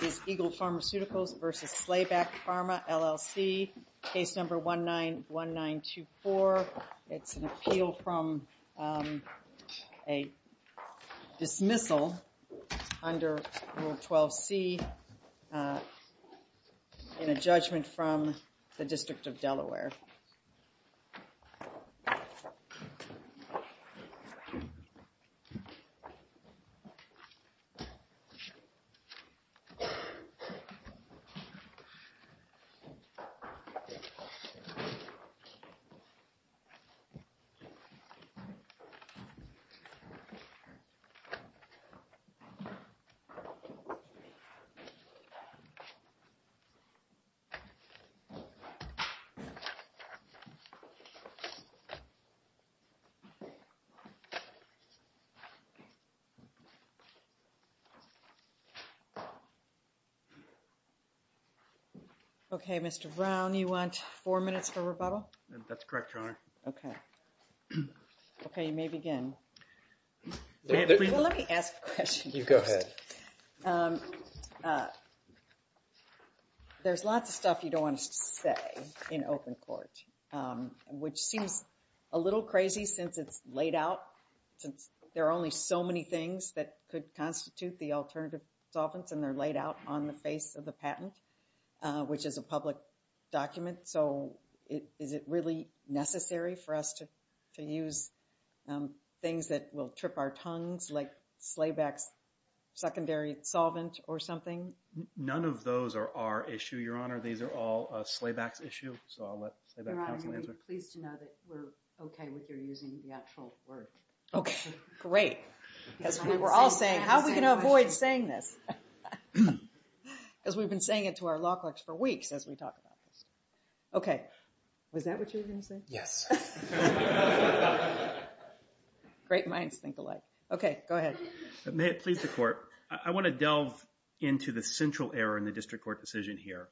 Case number 191924. It's an appeal from a dismissal under Rule 12c in a judgment from the District of Delaware. This is an appeal from a dismissal under Rule 12c in a judgment from the District of Delaware. Okay, Mr. Brown, you want four minutes for rebuttal? That's correct, Your Honor. Okay. Okay, you may begin. Let me ask a question first. Go ahead. There's lots of stuff you don't want us to say in open court, which seems a little crazy since it's laid out. There are only so many things that could constitute the alternative solvents and they're laid out on the face of the patent, which is a public document. So, is it really necessary for us to use things that will trip our tongues like Slayback's secondary solvent or something? None of those are our issue, Your Honor. These are all Slayback's issue, so I'll let Slayback counsel answer. We're pleased to know that we're okay with your using the actual word. Okay, great. Because we were all saying, how are we going to avoid saying this? Because we've been saying it to our law clerks for weeks as we talk about this. Okay. Was that what you were going to say? Yes. Great minds think alike. Okay, go ahead. May it please the Court, I want to delve into the central error in the district court decision here.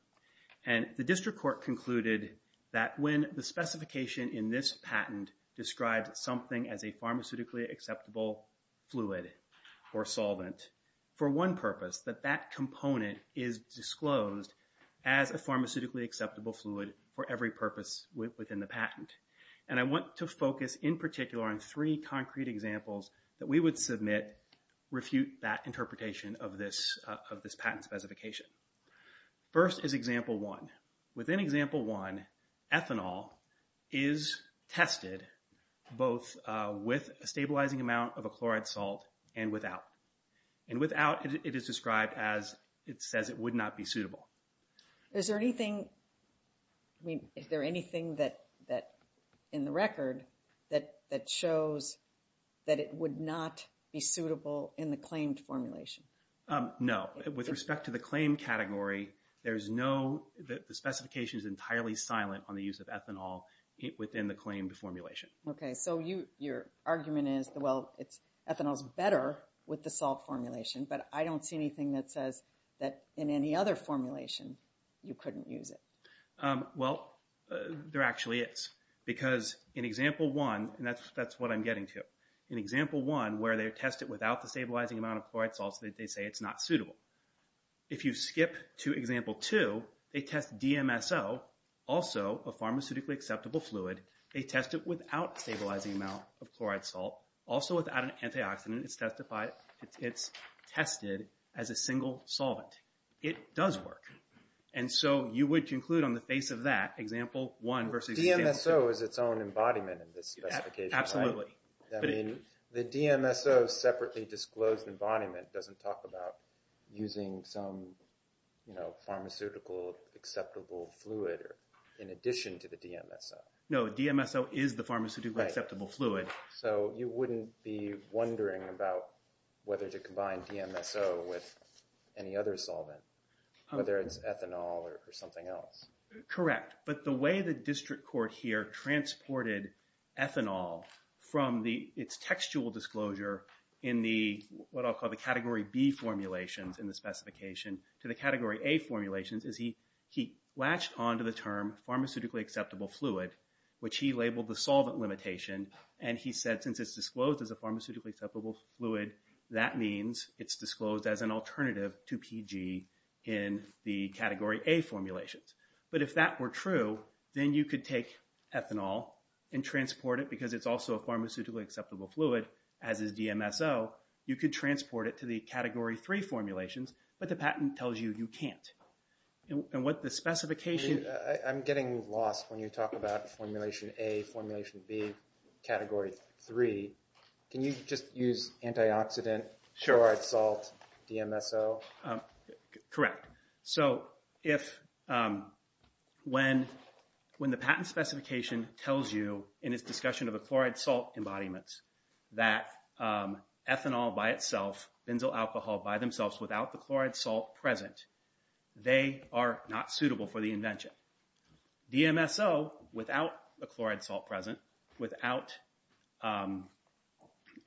And the district court concluded that when the specification in this patent describes something as a pharmaceutically acceptable fluid or solvent, for one purpose, that that component is disclosed as a pharmaceutically acceptable fluid for every purpose within the patent. And I want to focus in particular on three concrete examples that we would submit refute that interpretation of this patent specification. First is example one. Within example one, ethanol is tested both with a stabilizing amount of a chloride salt and without. And without, it is described as it says it would not be suitable. Is there anything, I mean, is there anything that, in the record, that shows that it would not be suitable in the claimed formulation? No. With respect to the claimed category, there is no, the specification is entirely silent on the use of ethanol within the claimed formulation. Okay. So your argument is, well, ethanol is better with the salt formulation, but I don't see anything that says that in any other formulation you couldn't use it. Well, there actually is. Because in example one, and that's what I'm getting to. In example one, where they test it without the stabilizing amount of chloride salt, they say it's not suitable. If you skip to example two, they test DMSO, also a pharmaceutically acceptable fluid. They test it without stabilizing amount of chloride salt, also without an antioxidant. It's tested as a single solvent. It does work. And so you would conclude on the face of that, example one versus example two. DMSO is its own embodiment in this specification, right? The DMSO separately disclosed embodiment doesn't talk about using some pharmaceutical acceptable fluid in addition to the DMSO. No. DMSO is the pharmaceutically acceptable fluid. So you wouldn't be wondering about whether to combine DMSO with any other solvent, whether it's ethanol or something else. Correct. But the way the district court here transported ethanol from its textual disclosure in the, what I'll call the category B formulations in the specification, to the category A formulations is he latched onto the term pharmaceutically acceptable fluid, which he labeled the solvent limitation. And he said since it's disclosed as a pharmaceutically acceptable fluid, that means it's disclosed as an alternative to PG in the category A formulations. But if that were true, then you could take ethanol and transport it because it's also a pharmaceutically acceptable fluid, as is DMSO. You could transport it to the category three formulations. But the patent tells you you can't. And what the specification- I'm getting lost when you talk about formulation A, formulation B, category three. Can you just use antioxidant, short salt, DMSO? Correct. So when the patent specification tells you, in its discussion of the chloride salt embodiments, that ethanol by itself, benzyl alcohol by themselves, without the chloride salt present, they are not suitable for the invention. DMSO without the chloride salt present, without an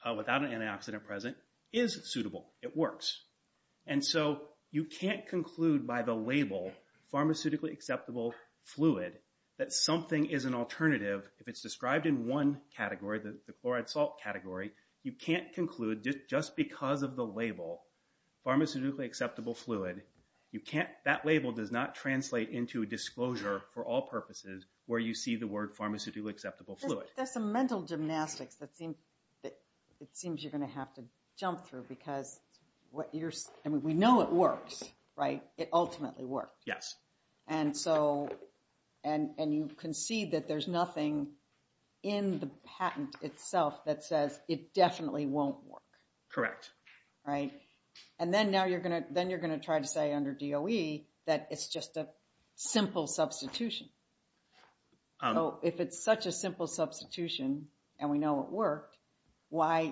antioxidant present, is suitable. It works. And so you can't conclude by the label, pharmaceutically acceptable fluid, that something is an alternative. If it's described in one category, the chloride salt category, you can't conclude just because of the label, pharmaceutically acceptable fluid, that label does not translate into a disclosure for all purposes where you see the word pharmaceutically acceptable fluid. There's some mental gymnastics that it seems you're going to have to jump through. Because we know it works, right? It ultimately works. Yes. And you concede that there's nothing in the patent itself that says it definitely won't work. Correct. Right? And then you're going to try to say under DOE that it's just a simple substitution. So if it's such a simple substitution, and we know it worked, why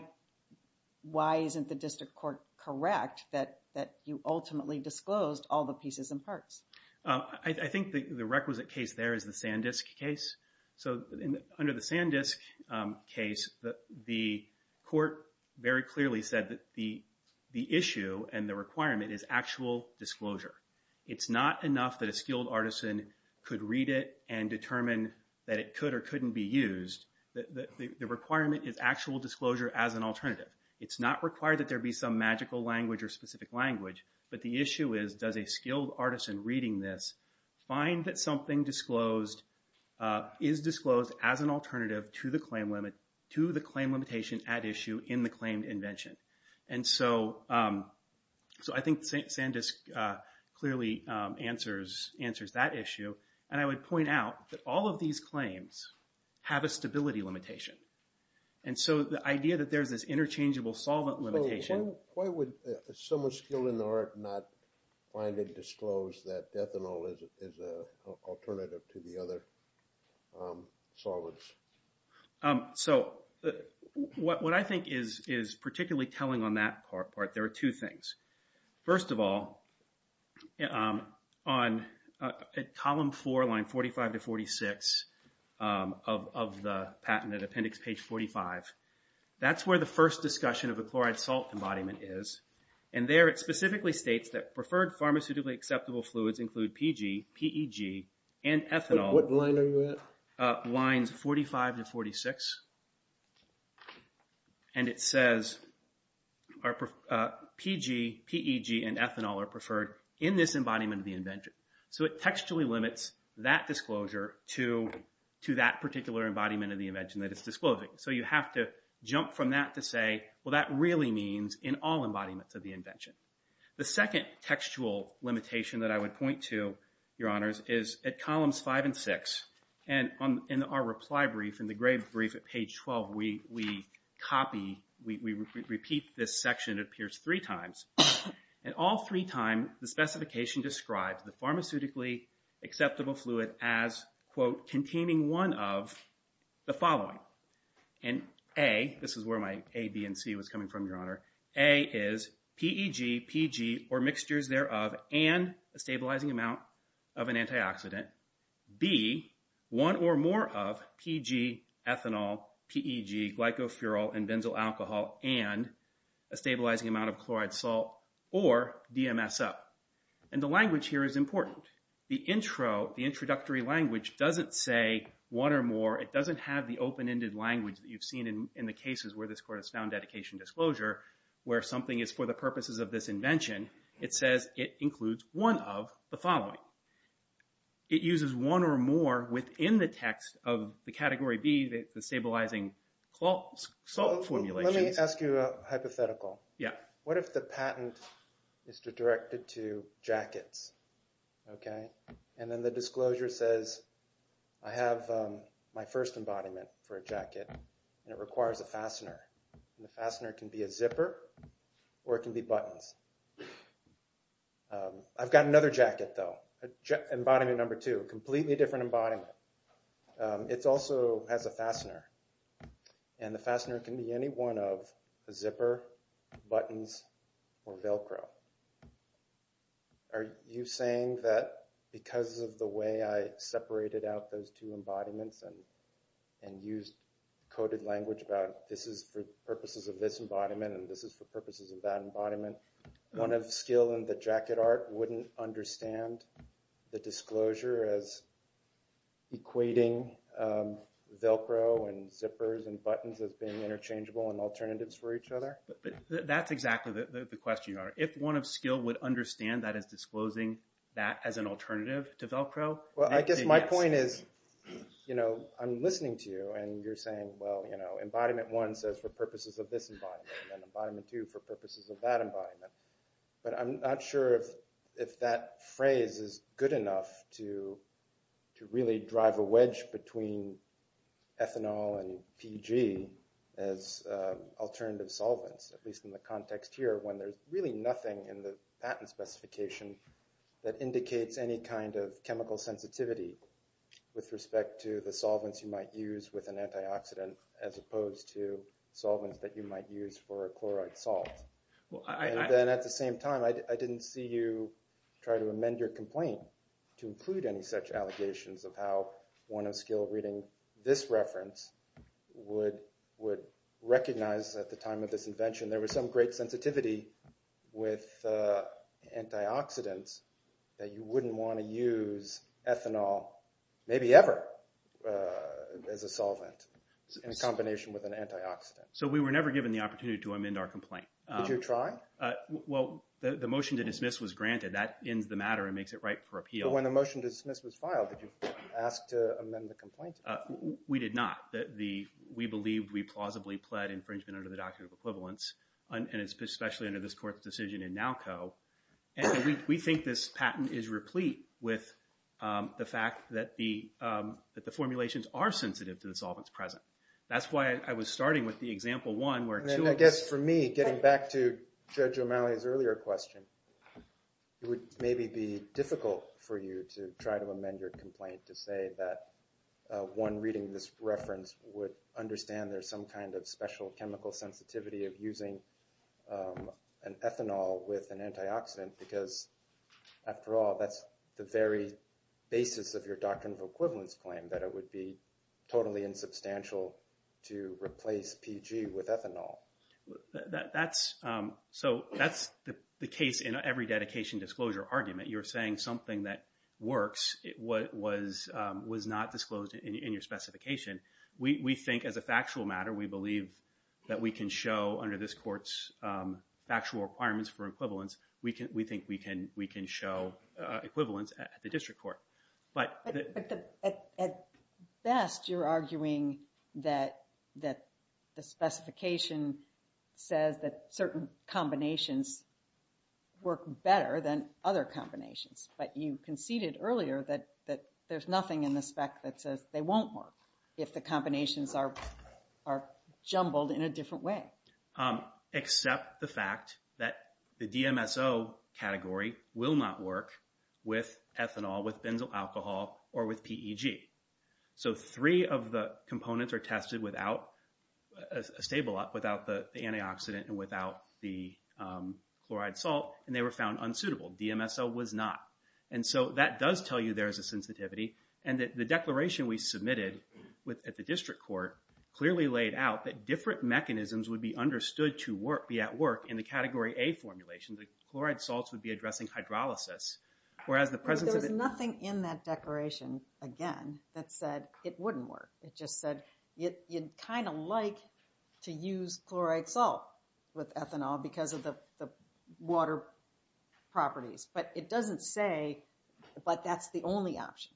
isn't the district court correct that you ultimately disclosed all the pieces and parts? I think the requisite case there is the Sandisk case. So under the Sandisk case, the court very clearly said that the issue and the requirement is actual disclosure. It's not enough that a skilled artisan could read it and determine that it could or couldn't be used. The requirement is actual disclosure as an alternative. It's not required that there be some magical language or specific language. But the issue is, does a skilled artisan reading this find that something is disclosed as an alternative to the claim limitation at issue in the claim invention? And so I think Sandisk clearly answers that issue. And I would point out that all of these claims have a stability limitation. And so the idea that there's this interchangeable solvent limitation... So why would someone skilled in the art not find it disclosed that ethanol is an alternative to the other solvents? So what I think is particularly telling on that part, there are two things. First of all, on column four, line 45 to 46 of the patent at appendix page 45, that's where the first discussion of the chloride salt embodiment is. And there it specifically states that preferred pharmaceutically acceptable fluids include PEG and ethanol. What line are you at? Lines 45 to 46. And it says PEG and ethanol are preferred in this embodiment of the invention. So it textually limits that disclosure to that particular embodiment of the invention that it's disclosing. So you have to jump from that to say, well, that really means in all embodiments of the invention. The second textual limitation that I would point to, Your Honors, is at columns five and six. And in our reply brief, in the grade brief at page 12, we repeat this section. It appears three times. And all three times, the specification describes the pharmaceutically acceptable fluid as, quote, containing one of the following. And A, this is where my A, B, and C was coming from, Your Honor. A is PEG, PG, or mixtures thereof, and a stabilizing amount of an antioxidant. B, one or more of PG, ethanol, PEG, glycopherol, and benzyl alcohol, and a stabilizing amount of chloride salt or DMSO. And the language here is important. The intro, the introductory language doesn't say one or more. It doesn't have the open-ended language that you've seen in the cases where this Court has found dedication disclosure, where something is for the purposes of this invention. It says it includes one of the following. It uses one or more within the text of the Category B, the stabilizing salt formulation. Let me ask you a hypothetical. What if the patent is directed to jackets? Okay. And then the disclosure says I have my first embodiment for a jacket, and it requires a fastener. And the fastener can be a zipper or it can be buttons. I've got another jacket, though, embodiment number two, a completely different embodiment. It also has a fastener, and the fastener can be any one of a zipper, buttons, or Velcro. Are you saying that because of the way I separated out those two embodiments and used coded language about this is for purposes of this embodiment and this is for purposes of that embodiment, one of the skill in the jacket art wouldn't understand the disclosure as equating Velcro and zippers and buttons as being interchangeable and alternatives for each other? That's exactly the question you are. If one of skill would understand that as disclosing that as an alternative to Velcro. Well, I guess my point is I'm listening to you, and you're saying, well, embodiment one says for purposes of this embodiment and embodiment two for purposes of that embodiment. But I'm not sure if that phrase is good enough to really drive a wedge between ethanol and PG as alternative solvents, at least in the context here when there's really nothing in the patent specification that indicates any kind of chemical sensitivity with respect to the solvents you might use with an antioxidant as opposed to solvents that you might use for a chloride salt. And then at the same time, I didn't see you try to amend your complaint to include any such allegations of how one of skill reading this reference would recognize at the time of this invention there was some great sensitivity with antioxidants that you wouldn't want to use ethanol, maybe ever, as a solvent in combination with an antioxidant. So we were never given the opportunity to amend our complaint. Did you try? Well, the motion to dismiss was granted. That ends the matter and makes it right for appeal. But when the motion to dismiss was filed, did you ask to amend the complaint? We did not. We believed we plausibly pled infringement under the Doctrine of Equivalence, and especially under this Court's decision in NALCO. And we think this patent is replete with the fact that the formulations are sensitive to the solvents present. That's why I was starting with the example one where two of us— And I guess for me, getting back to Judge O'Malley's earlier question, it would maybe be difficult for you to try to amend your complaint to say that one reading this reference would understand there's some kind of special chemical sensitivity of using an ethanol with an antioxidant because, after all, that's the very basis of your Doctrine of Equivalence claim, that it would be totally insubstantial to replace PG with ethanol. That's the case in every dedication disclosure argument. You're saying something that works was not disclosed in your specification. We think, as a factual matter, we believe that we can show under this Court's factual requirements for equivalence, we think we can show equivalence at the District Court. But at best, you're arguing that the specification says that certain combinations work better than other combinations. But you conceded earlier that there's nothing in the spec that says they won't work if the combinations are jumbled in a different way. Except the fact that the DMSO category will not work with ethanol, with benzoyl alcohol, or with PEG. So three of the components are tested without the antioxidant and without the chloride salt, and they were found unsuitable. DMSO was not. And so that does tell you there is a sensitivity, and the declaration we submitted at the District Court clearly laid out that different mechanisms would be understood to be at work in the Category A formulation. The chloride salts would be addressing hydrolysis. There's nothing in that declaration, again, that said it wouldn't work. It just said you'd kind of like to use chloride salt with ethanol because of the water properties. But it doesn't say that that's the only option.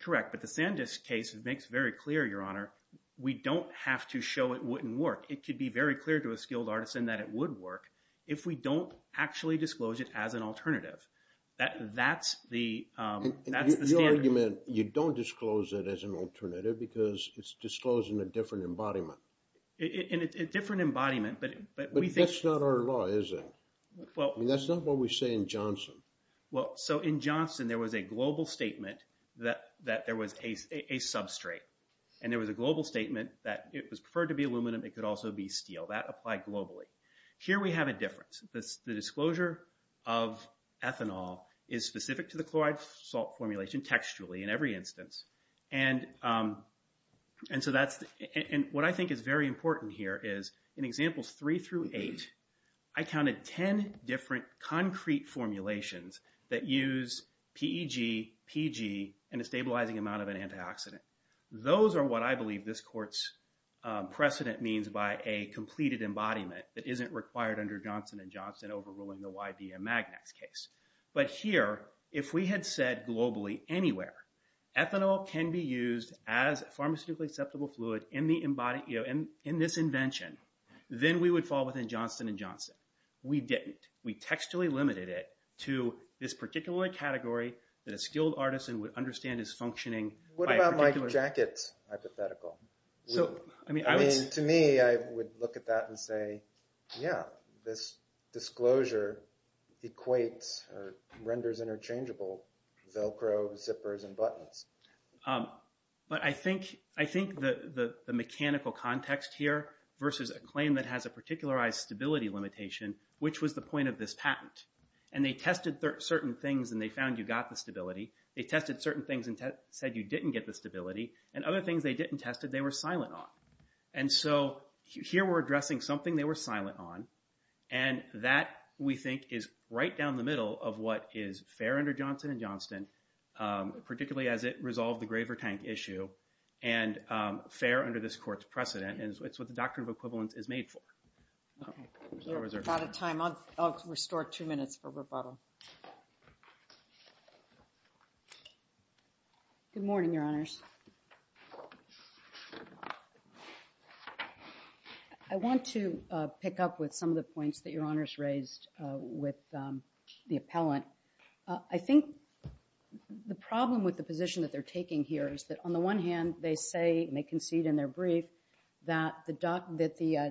Correct, but the Sandisk case makes very clear, Your Honor, we don't have to show it wouldn't work. It could be very clear to a skilled artisan that it would work if we don't actually disclose it as an alternative. That's the standard. Your argument, you don't disclose it as an alternative because it's disclosed in a different embodiment. In a different embodiment, but we think… But that's not our law, is it? That's not what we say in Johnson. In Johnson, there was a global statement that there was a substrate, and there was a global statement that it was preferred to be aluminum. It could also be steel. That applied globally. Here we have a difference. The disclosure of ethanol is specific to the chloride salt formulation textually in every instance. What I think is very important here is in Examples 3 through 8, I counted 10 different concrete formulations that use PEG, PG, and a stabilizing amount of an antioxidant. Those are what I believe this court's precedent means by a completed embodiment that isn't required under Johnson & Johnson overruling the YBM Magnex case. But here, if we had said globally anywhere, ethanol can be used as a pharmaceutically acceptable fluid in this invention, then we would fall within Johnson & Johnson. We didn't. We textually limited it to this particular category that a skilled artisan would understand is functioning by a particular… What about Mike Jackett's hypothetical? I mean, to me, I would look at that and say, yeah, this disclosure equates or renders interchangeable Velcro zippers and buttons. But I think the mechanical context here versus a claim that has a particularized stability limitation, which was the point of this patent. And they tested certain things and they found you got the stability. They tested certain things and said you didn't get the stability. And other things they didn't test it, they were silent on. And so here we're addressing something they were silent on. And that, we think, is right down the middle of what is fair under Johnson & Johnson, particularly as it resolved the Graver Tank issue, and fair under this court's precedent. And it's what the Doctrine of Equivalence is made for. We're out of time. I'll restore two minutes for rebuttal. Good morning, Your Honors. I want to pick up with some of the points that Your Honors raised with the appellant. I think the problem with the position that they're taking here is that, on the one hand, they say, and they concede in their brief, that the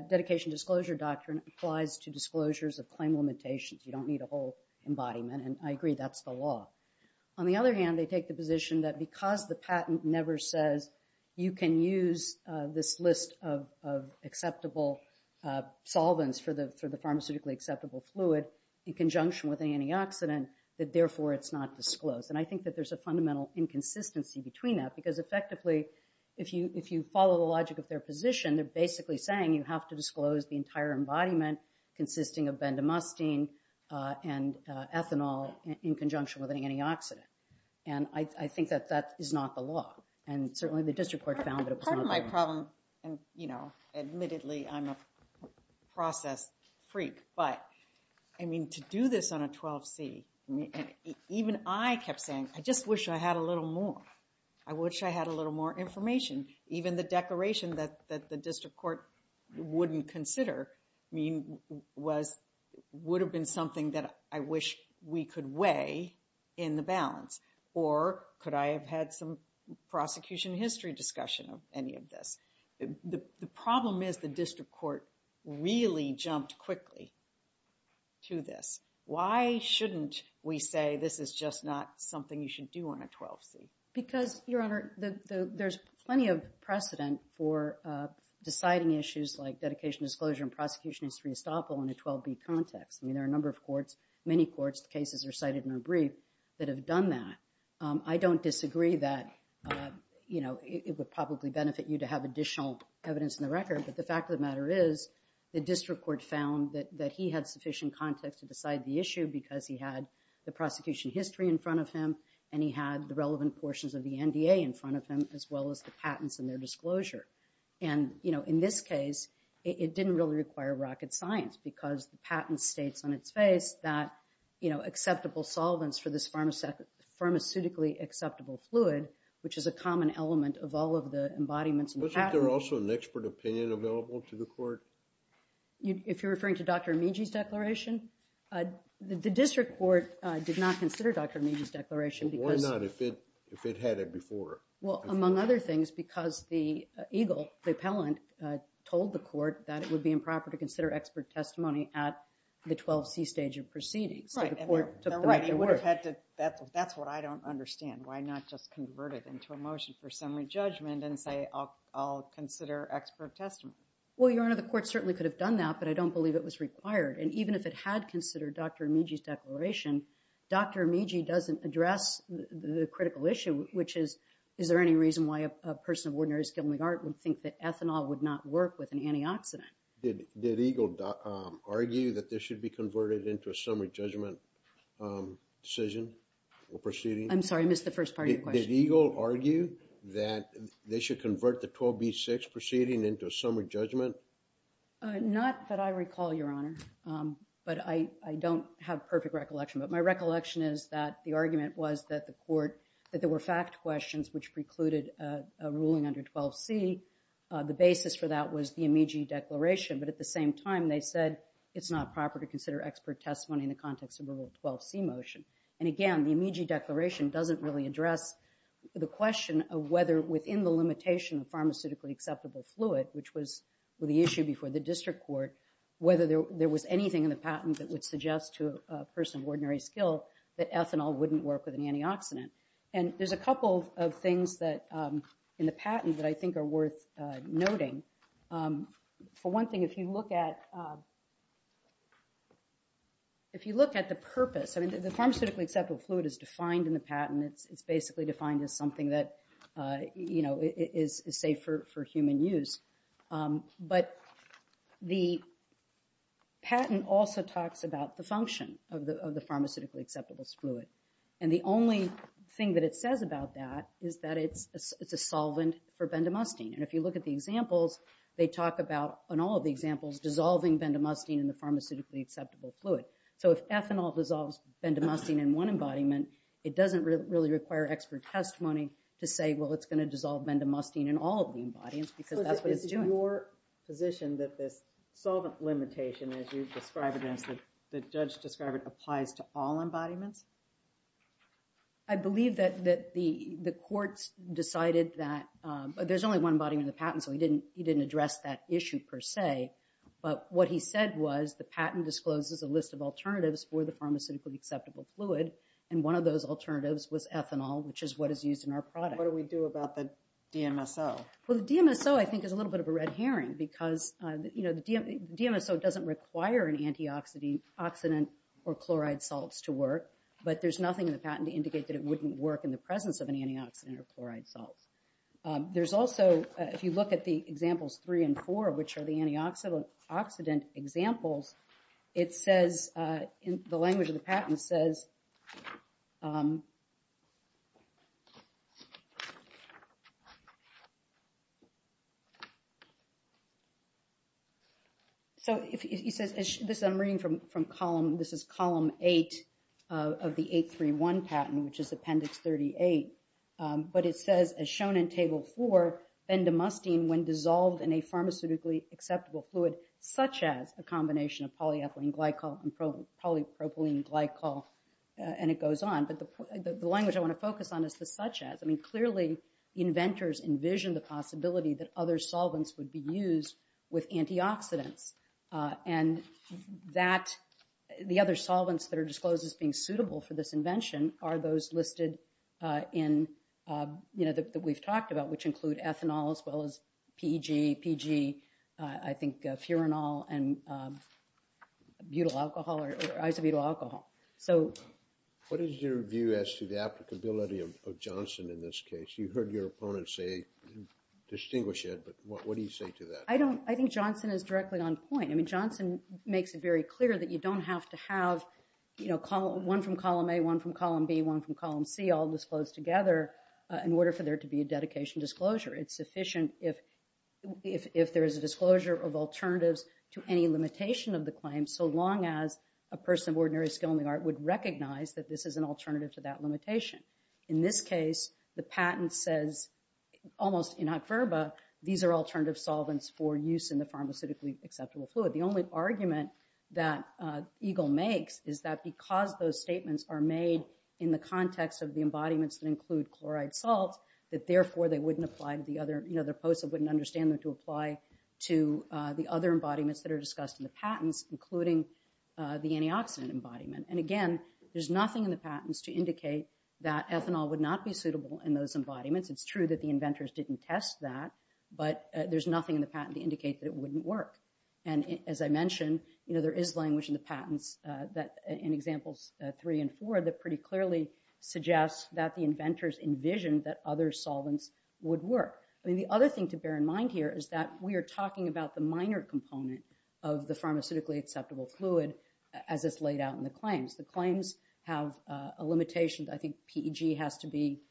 Dedication Disclosure Doctrine applies to disclosures of claim limitations. You don't need a whole embodiment, and I agree that's the law. On the other hand, they take the position that because the patent never says you can use this list of acceptable solvents for the pharmaceutically acceptable fluid in conjunction with an antioxidant, that, therefore, it's not disclosed. And I think that there's a fundamental inconsistency between that, because effectively, if you follow the logic of their position, they're basically saying you have to disclose the entire embodiment consisting of bendamustine and ethanol in conjunction with an antioxidant. And I think that that is not the law. And certainly the district court found that it was not the law. Admittedly, I'm a process freak. But, I mean, to do this on a 12C, even I kept saying, I just wish I had a little more. I wish I had a little more information. Even the declaration that the district court wouldn't consider would have been something that I wish we could weigh in the balance. Or could I have had some prosecution history discussion of any of this? The problem is the district court really jumped quickly to this. Why shouldn't we say this is just not something you should do on a 12C? Because, Your Honor, there's plenty of precedent for deciding issues like dedication disclosure and prosecution history estoppel in a 12B context. I mean, there are a number of courts, many courts, most cases are cited in a brief that have done that. I don't disagree that it would probably benefit you to have additional evidence in the record, but the fact of the matter is the district court found that he had sufficient context to decide the issue because he had the prosecution history in front of him and he had the relevant portions of the NDA in front of him as well as the patents and their disclosure. And in this case, it didn't really require rocket science because the patent states on its face that acceptable solvents for this pharmaceutically acceptable fluid, which is a common element of all of the embodiments and patents. Wasn't there also an expert opinion available to the court? If you're referring to Dr. Amici's declaration? The district court did not consider Dr. Amici's declaration because... Why not if it had it before? Well, among other things, because the EGLE, the appellant, told the court that it would be improper to consider expert testimony at the 12C stage of proceedings, so the court took the right to work. Right. That's what I don't understand. Why not just convert it into a motion for summary judgment and say, I'll consider expert testimony? Well, Your Honor, the court certainly could have done that, but I don't believe it was required. And even if it had considered Dr. Amici's declaration, Dr. Amici doesn't address the critical issue, which is, is there any reason why a person of ordinary skill and regard would think that ethanol would not work with an antioxidant? Did EGLE argue that this should be converted into a summary judgment decision or proceeding? I'm sorry, I missed the first part of your question. Did EGLE argue that they should convert the 12B6 proceeding into a summary judgment? Not that I recall, Your Honor, but I don't have perfect recollection. But my recollection is that the argument was that the court, that there were fact questions which precluded a ruling under 12C. The basis for that was the Amici declaration. But at the same time, they said it's not proper to consider expert testimony in the context of a rule 12C motion. And again, the Amici declaration doesn't really address the question of whether within the limitation of pharmaceutically acceptable fluid, which was the issue before the district court, whether there was anything in the patent that would suggest to a person of ordinary skill that ethanol wouldn't work with an antioxidant. And there's a couple of things that, in the patent, that I think are worth noting. For one thing, if you look at the purpose, I mean the pharmaceutically acceptable fluid is defined in the patent. It's basically defined as something that, you know, is safe for human use. But the patent also talks about the function of the pharmaceutically acceptable fluid. And the only thing that it says about that is that it's a solvent for bendamustine. And if you look at the examples, they talk about, in all of the examples, dissolving bendamustine in the pharmaceutically acceptable fluid. So if ethanol dissolves bendamustine in one embodiment, it doesn't really require expert testimony to say, well, it's going to dissolve bendamustine in all of the embodiments, because that's what it's doing. So is it your position that this solvent limitation, as you describe it, as the judge described it, applies to all embodiments? I believe that the courts decided that, but there's only one embodiment in the patent, so he didn't address that issue per se. But what he said was the patent discloses a list of alternatives for the ethanol, which is what is used in our product. What do we do about the DMSO? Well, the DMSO I think is a little bit of a red herring, because the DMSO doesn't require an antioxidant or chloride salts to work, but there's nothing in the patent to indicate that it wouldn't work in the presence of an antioxidant or chloride salts. There's also, if you look at the examples three and four, which are the antioxidant examples, it says, the language of the patent says, so he says, this I'm reading from column, this is column eight of the 831 patent, which is appendix 38, but it says, as shown in table four, bendamustine when dissolved in a pharmaceutically acceptable fluid, such as a combination of polyethylene glycol and polypropylene glycol, and it goes on. But the language I want to focus on is the such as. I mean, clearly inventors envision the possibility that other solvents would be used with antioxidants, and that the other solvents that are disclosed as being suitable for this invention are those listed in, you know, that we've talked about, which include ethanol as well as PEG, I think, furanol and butyl alcohol or isobutyl alcohol. So. What is your view as to the applicability of Johnson in this case? You heard your opponents say, distinguish it, but what do you say to that? I don't, I think Johnson is directly on point. I mean, Johnson makes it very clear that you don't have to have, you know, one from column A, one from column B, one from column C all disclosed together in order for there to be a dedication disclosure. It's sufficient if, if, if there is a disclosure of alternatives to any limitation of the claim, so long as a person of ordinary skill in the art would recognize that this is an alternative to that limitation. In this case, the patent says almost in adverba, these are alternative solvents for use in the pharmaceutically acceptable fluid. The only argument that Eagle makes is that because those statements are made in the context of the embodiments that include chloride salts, that therefore they wouldn't apply to the other, you know, their posts that wouldn't understand them to apply to the other embodiments that are discussed in the patents, including the antioxidant embodiment. And again, there's nothing in the patents to indicate that ethanol would not be suitable in those embodiments. It's true that the inventors didn't test that, but there's nothing in the patent to indicate that it wouldn't work. And as I mentioned, you know, there is language in the patents that in examples three and four, that pretty clearly suggests that the inventors envisioned that other solvents would work. I mean, the other thing to bear in mind here is that we are talking about the minor component of the pharmaceutically acceptable fluid as it's laid out in the claims. The claims have a limitation. I think PEG has to be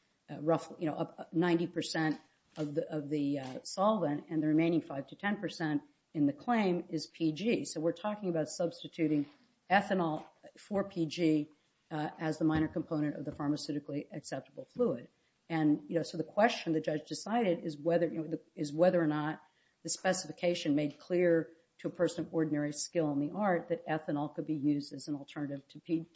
roughly, you know, 90% of the, of the solvent and the remaining five to 10% in the claim is PG. So we're talking about substituting ethanol for PG as the minor component of the pharmaceutically acceptable fluid. And, you know, so the question the judge decided is whether or not the specification made clear to a person of ordinary skill in the art that ethanol could be used as an alternative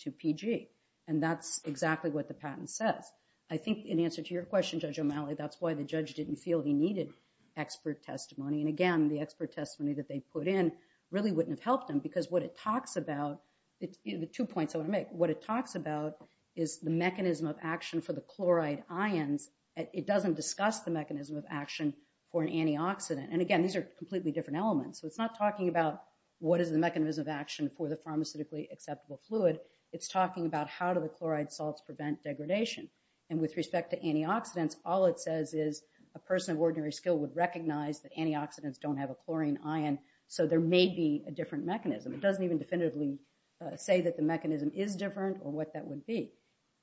to PG. And that's exactly what the patent says. I think in answer to your question, Judge O'Malley, that's why the judge didn't feel he needed expert testimony. And again, the expert testimony that they put in really wouldn't have helped him because what it talks about, the two points I want to make, what it talks about is the mechanism of action for the chloride ions. It doesn't discuss the mechanism of action for an antioxidant. And again, these are completely different elements. So it's not talking about what is the mechanism of action for the pharmaceutically acceptable fluid. It's talking about how do the chloride salts prevent degradation. And with respect to antioxidants, all it says is a person of ordinary skill would recognize that antioxidants don't have a chlorine ion. So there may be a different mechanism. It doesn't even definitively say that the mechanism is different or what that would be.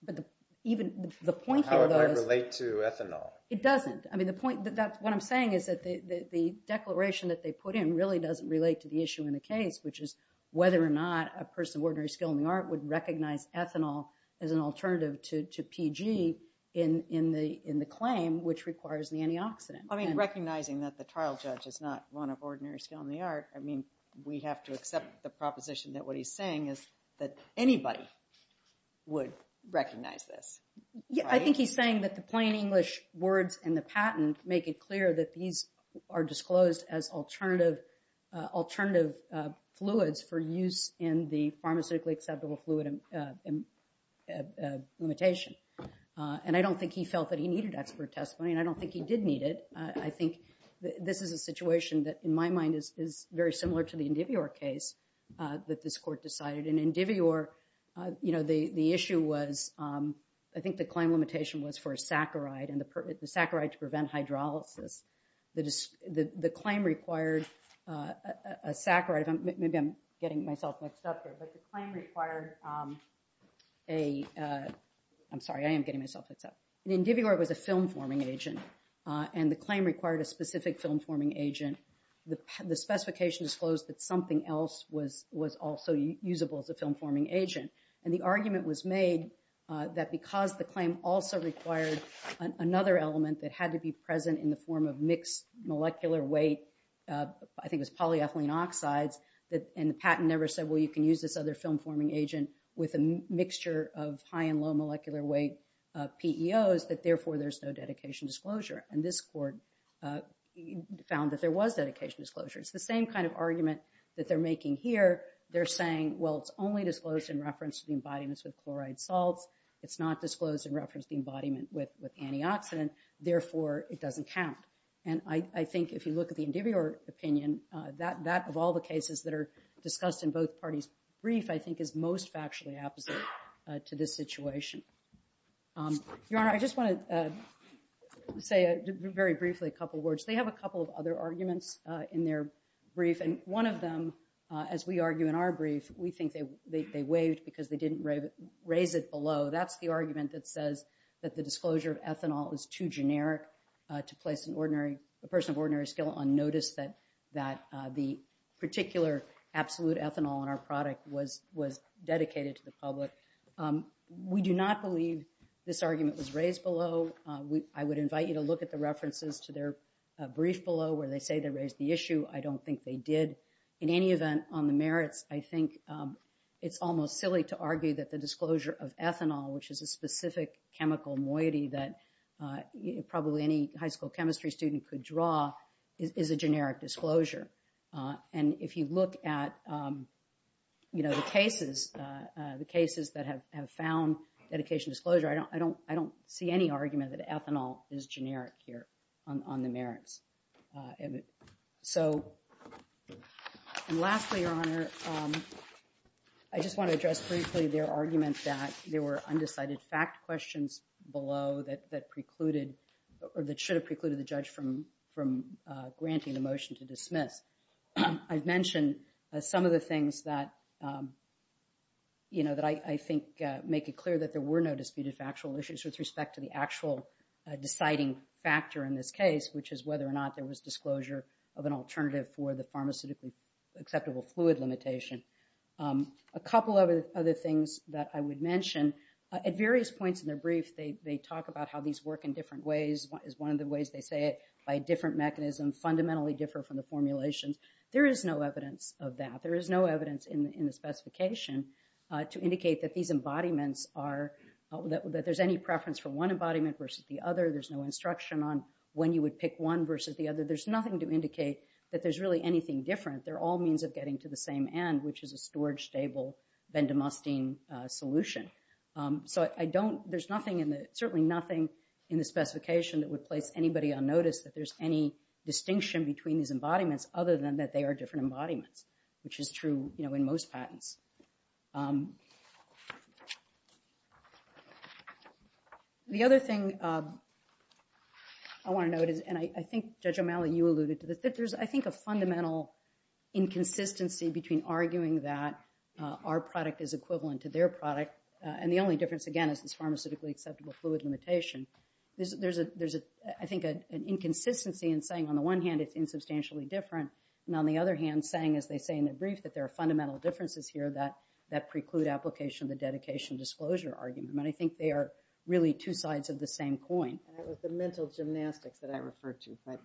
But the, even the point here, how it might relate to ethanol. It doesn't. I mean, the point that that's what I'm saying is that the, the declaration that they put in really doesn't relate to the issue in the case, which is whether or not a person of ordinary skill in the art would recognize ethanol as an alternative to PG in, in the, in the claim, which requires the antioxidant. I mean, recognizing that the trial judge is not one of ordinary skill in the art. I mean, we have to accept the proposition that what he's saying is that anybody would recognize this. Yeah. I think he's saying that the plain English words and the patent make it clear that these are disclosed as alternative, alternative fluids for use in the pharmaceutically acceptable fluid limitation. And I don't think he felt that he needed expert testimony and I don't think he did need it. I think this is a situation that in my mind is, is very similar to the Indivior case that this court decided in Indivior. You know, the, the issue was I think the claim limitation was for a saccharide and the saccharide to prevent hydrolysis. The, the, the claim required a saccharide. Maybe I'm getting myself mixed up here, but the claim required a I'm sorry, I am getting myself mixed up. Indivior was a film forming agent and the claim required a specific film forming agent. The, the specification disclosed that something else was, was also usable as a film forming agent. And the argument was made that because the claim also required another element that had to be present in the form of mixed molecular weight, I think it was polyethylene oxides that, and the patent never said, well, you can use this other film forming agent with a mixture of high and low molecular weight, PEOs that therefore there's no dedication disclosure. And this court found that there was dedication disclosure. It's the same kind of argument that they're making here. They're saying, well, it's only disclosed in reference to the embodiments with chloride salts. It's not disclosed in reference to the embodiment with antioxidant. Therefore it doesn't count. And I think if you look at the Indivior opinion that, that of all the cases that are discussed in both parties brief, I think is most factually opposite to this situation. Your Honor, I just want to say very briefly, a couple of words. They have a couple of other arguments in their brief. And one of them, as we argue in our brief, we think they waived because they didn't raise it below. That's the argument that says that the disclosure of ethanol is too generic to place an ordinary, a person of ordinary skill on notice that, that the particular absolute ethanol in our product was, was dedicated to the public. We do not believe this argument was raised below. We, I would invite you to look at the references to their brief below where they say they raised the issue. I don't think they did. In any event on the merits, I think it's almost silly to argue that the disclosure of ethanol, which is a specific chemical moiety that probably any high school chemistry student could draw is a generic disclosure. And if you look at, you know, the cases, the cases that have found dedication disclosure, I don't, I don't see any argument that ethanol is generic here on the merits. So lastly, your honor, I just want to address briefly their argument that there were undecided fact questions below that, that precluded or that should have precluded the judge from, from granting the motion to dismiss. I've mentioned some of the things that, you know, that I think make it clear that there were no disputed factual issues with respect to the actual deciding factor in this case, which is whether or not there was disclosure of an alternative for the pharmaceutically acceptable fluid limitation. A couple of other things that I would mention, at various points in their brief, they talk about how these work in different ways, is one of the ways they say it, by different mechanisms fundamentally differ from the formulations. There is no evidence of that. There is no evidence in the specification to indicate that these embodiments are, that there's any preference for one embodiment versus the other. There's no instruction on when you would pick one versus the other. There's nothing to indicate that there's really anything different. They're all means of getting to the same end, which is a storage stable Vendamostine solution. So I don't, there's nothing in the, certainly nothing in the specification that would place anybody on notice that there's any distinction between these embodiments, other than that they are different embodiments, which is true, you know, in most patents. The other thing I want to note is, and I think Judge O'Malley, you alluded to this, that there's, I think, a fundamental inconsistency between arguing that our product is equivalent to their product. And the only difference, again, is this pharmaceutically acceptable fluid limitation. There's, I think, an inconsistency in saying, on the one hand, it's insubstantially different. And on the other hand, saying, as they say in the brief, that there are fundamental differences here that preclude application of the dedication disclosure argument. And I think they are really two sides of the same coin. And that was the mental gymnastics that I referred to. But,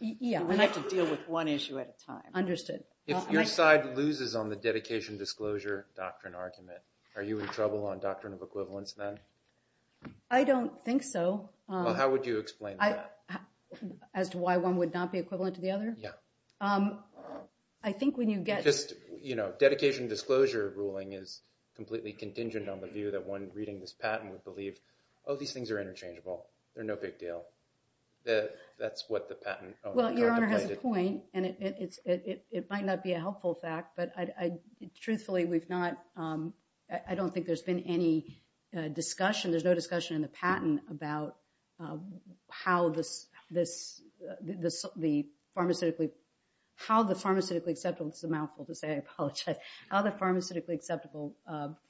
yeah, we have to deal with one issue at a time. Understood. If your side loses on the dedication disclosure doctrine argument, are you in trouble on doctrine of equivalence then? I don't think so. Well, how would you explain that? As to why one would not be equivalent to the other? Yeah. I think when you get... Just, you know, dedication disclosure ruling is completely contingent on the view that one reading this patent would believe, oh, these things are interchangeable. They're no big deal. That's what the patent... Well, your honor has a point. And it might not be a helpful fact, but I, truthfully, we've not, I don't think there's been any discussion. There's no discussion in the patent about how this, this, the pharmaceutically, how the pharmaceutically acceptable, it's a mouthful to say, I apologize, how the pharmaceutically acceptable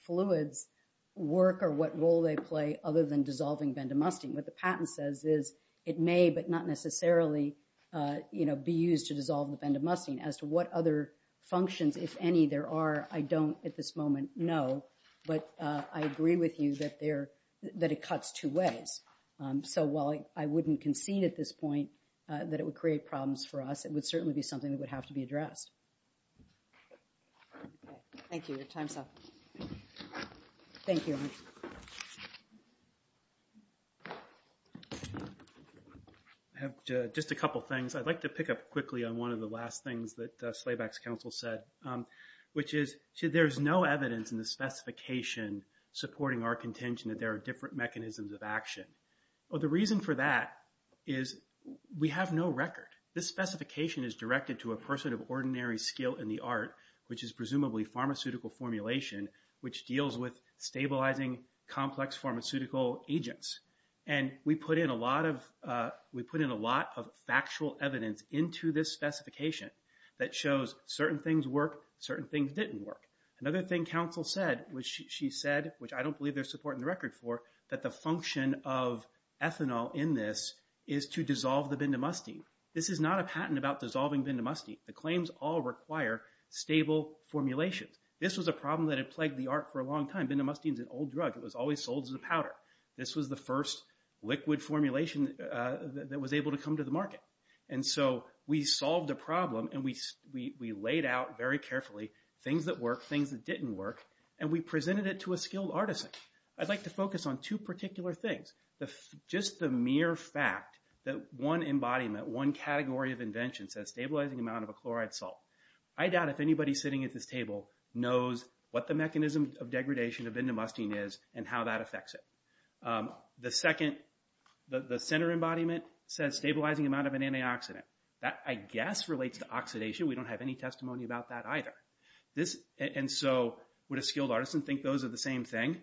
fluids work or what role they play other than dissolving bendamustine. What the patent says is it may, but not necessarily, you know, be used to dissolve the bendamustine. As to what other functions, if any, there are, I don't at this moment know, but I agree with you that there, that it cuts two ways. So while I wouldn't concede at this point, that it would create problems for us, it would certainly be something that would have to be addressed. Thank you. Your time's up. Thank you. I have just a couple of things. I'd like to pick up quickly on one of the last things that Slabeck's counsel said, which is, there's no evidence in the specification supporting our contention that there are different mechanisms of action. The reason for that is we have no record. This specification is directed to a person of ordinary skill in the art, which is presumably pharmaceutical formulation, which deals with stabilizing complex pharmaceutical agents. And we put in a lot of, we put in a lot of factual evidence into this specification that shows certain things work, certain things didn't work. Another thing counsel said, which she said, which I don't believe there's support in the record for, that the function of ethanol in this is to dissolve the Bindamustine. This is not a patent about dissolving Bindamustine. The claims all require stable formulations. This was a problem that had plagued the art for a long time. Bindamustine's an old drug. It was always sold as a powder. This was the first liquid formulation that was able to come to the market. And so we solved the problem, and we laid out very carefully things that worked, things that didn't work, and we presented it to a skilled artisan. I'd like to focus on two particular things. Just the mere fact that one embodiment, one category of invention says stabilizing amount of a chloride salt. I doubt if anybody sitting at this table knows what the mechanism of degradation of Bindamustine is and how that affects it. The second, the center embodiment says stabilizing amount of an antioxidant. That, I guess, relates to oxidation. We don't have any testimony about that either. And so would a skilled artisan think those are the same thing?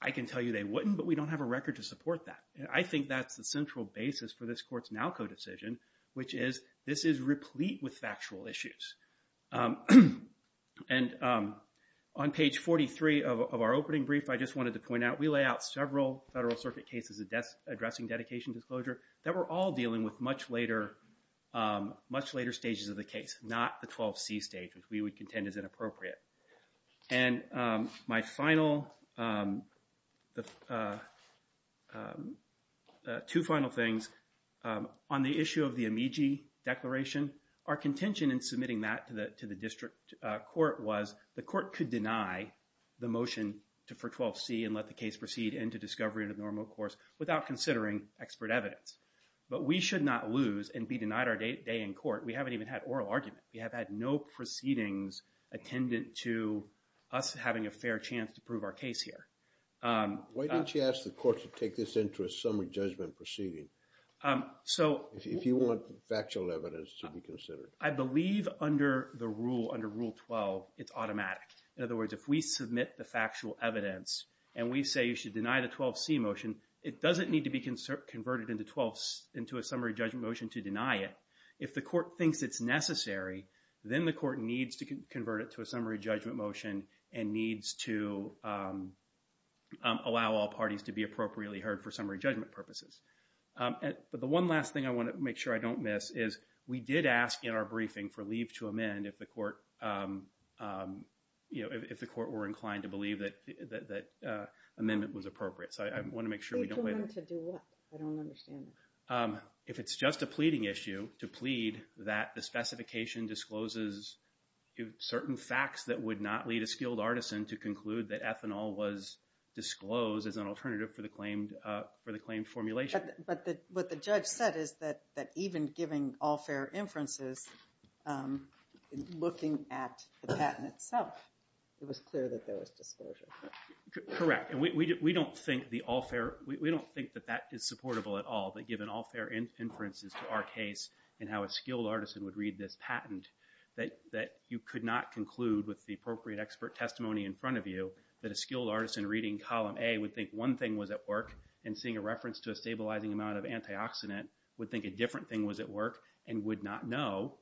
I can tell you they wouldn't, but we don't have a record to support that. I think that's the central basis for this court's NALCO decision, which is this is replete with factual issues. And on page 43 of our opening brief, I just wanted to point out, we lay out several Federal Circuit cases addressing dedication disclosure that were all dealing with much later stages of the case, not the 12C stage, which we would contend is inappropriate. And my final, two final things. On the issue of the amici declaration, our contention in submitting that to the district court was the court could deny the motion for 12C and let the case proceed into discovery in a normal course without considering expert evidence. But we should not lose and be denied our day in court. We haven't even had oral argument. We have had no proceedings attendant to us having a fair chance to prove our case here. Why don't you ask the court to take this into a summary judgment proceeding if you want factual evidence to be considered? I believe under the rule, under Rule 12, it's automatic. In other words, if we submit the factual evidence and we say you should deny the 12C motion, it doesn't need to be converted into a summary judgment motion to deny it. If the court thinks it's necessary, then the court needs to convert it to a summary judgment motion and needs to allow all parties to be appropriately heard for summary judgment purposes. But the one last thing I want to make sure I don't miss is we did ask in our briefing for leave to amend if the court, you know, if the court were inclined to believe that amendment was appropriate. So I want to make sure we don't... Leave to amend to do what? I don't understand that. If it's just a pleading issue to plead that the specification discloses certain facts that would not lead a skilled artisan to conclude that ethanol was disclosed as an alternative for the claimed formulation. But what the judge said is that even giving all fair inferences, looking at the patent itself, it was clear that there was disclosure. Correct. And we don't think the all fair... Given all fair inferences to our case and how a skilled artisan would read this patent that you could not conclude with the appropriate expert testimony in front of you that a skilled artisan reading column A would think one thing was at work and seeing a reference to a stabilizing amount of antioxidant would think a different thing was at work and would not know.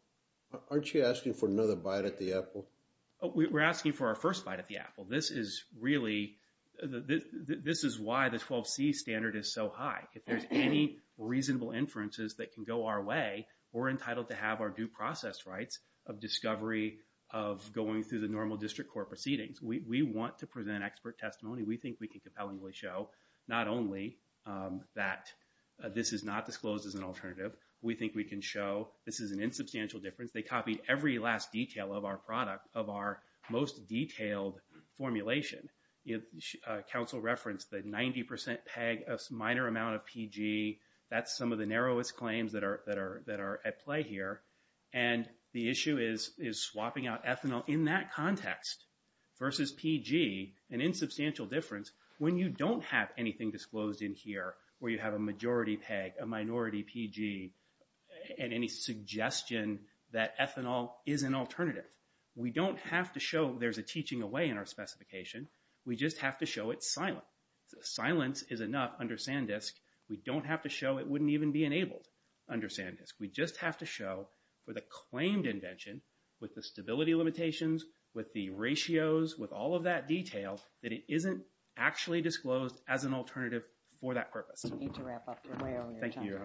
Aren't you asking for another bite at the apple? We're asking for our first bite at the apple. This is really... This is why the 12C standard is so high. If there's any reasonable inferences that can go our way, we're entitled to have our due process rights of discovery of going through the normal district court proceedings. We want to present expert testimony. We think we can compellingly show not only that this is not disclosed as an alternative. We think we can show this is an insubstantial difference. They copied every last detail of our product, of our most detailed formulation. Council referenced the 90% PEG, a minor amount of PG. That's some of the narrowest claims that are at play here. And the issue is swapping out ethanol in that context versus PG, an insubstantial difference, when you don't have anything disclosed in here where you have a majority PEG, a minority PG, and any suggestion that ethanol is an alternative. We don't have to show there's a teaching away in our specification. We just have to show it's silent. Silence is enough under SanDisk. We don't have to show it wouldn't even be enabled under SanDisk. We just have to show for the claimed invention, with the stability limitations, with the ratios, with all of that detail, that it isn't actually disclosed as an alternative for that purpose. Thank you.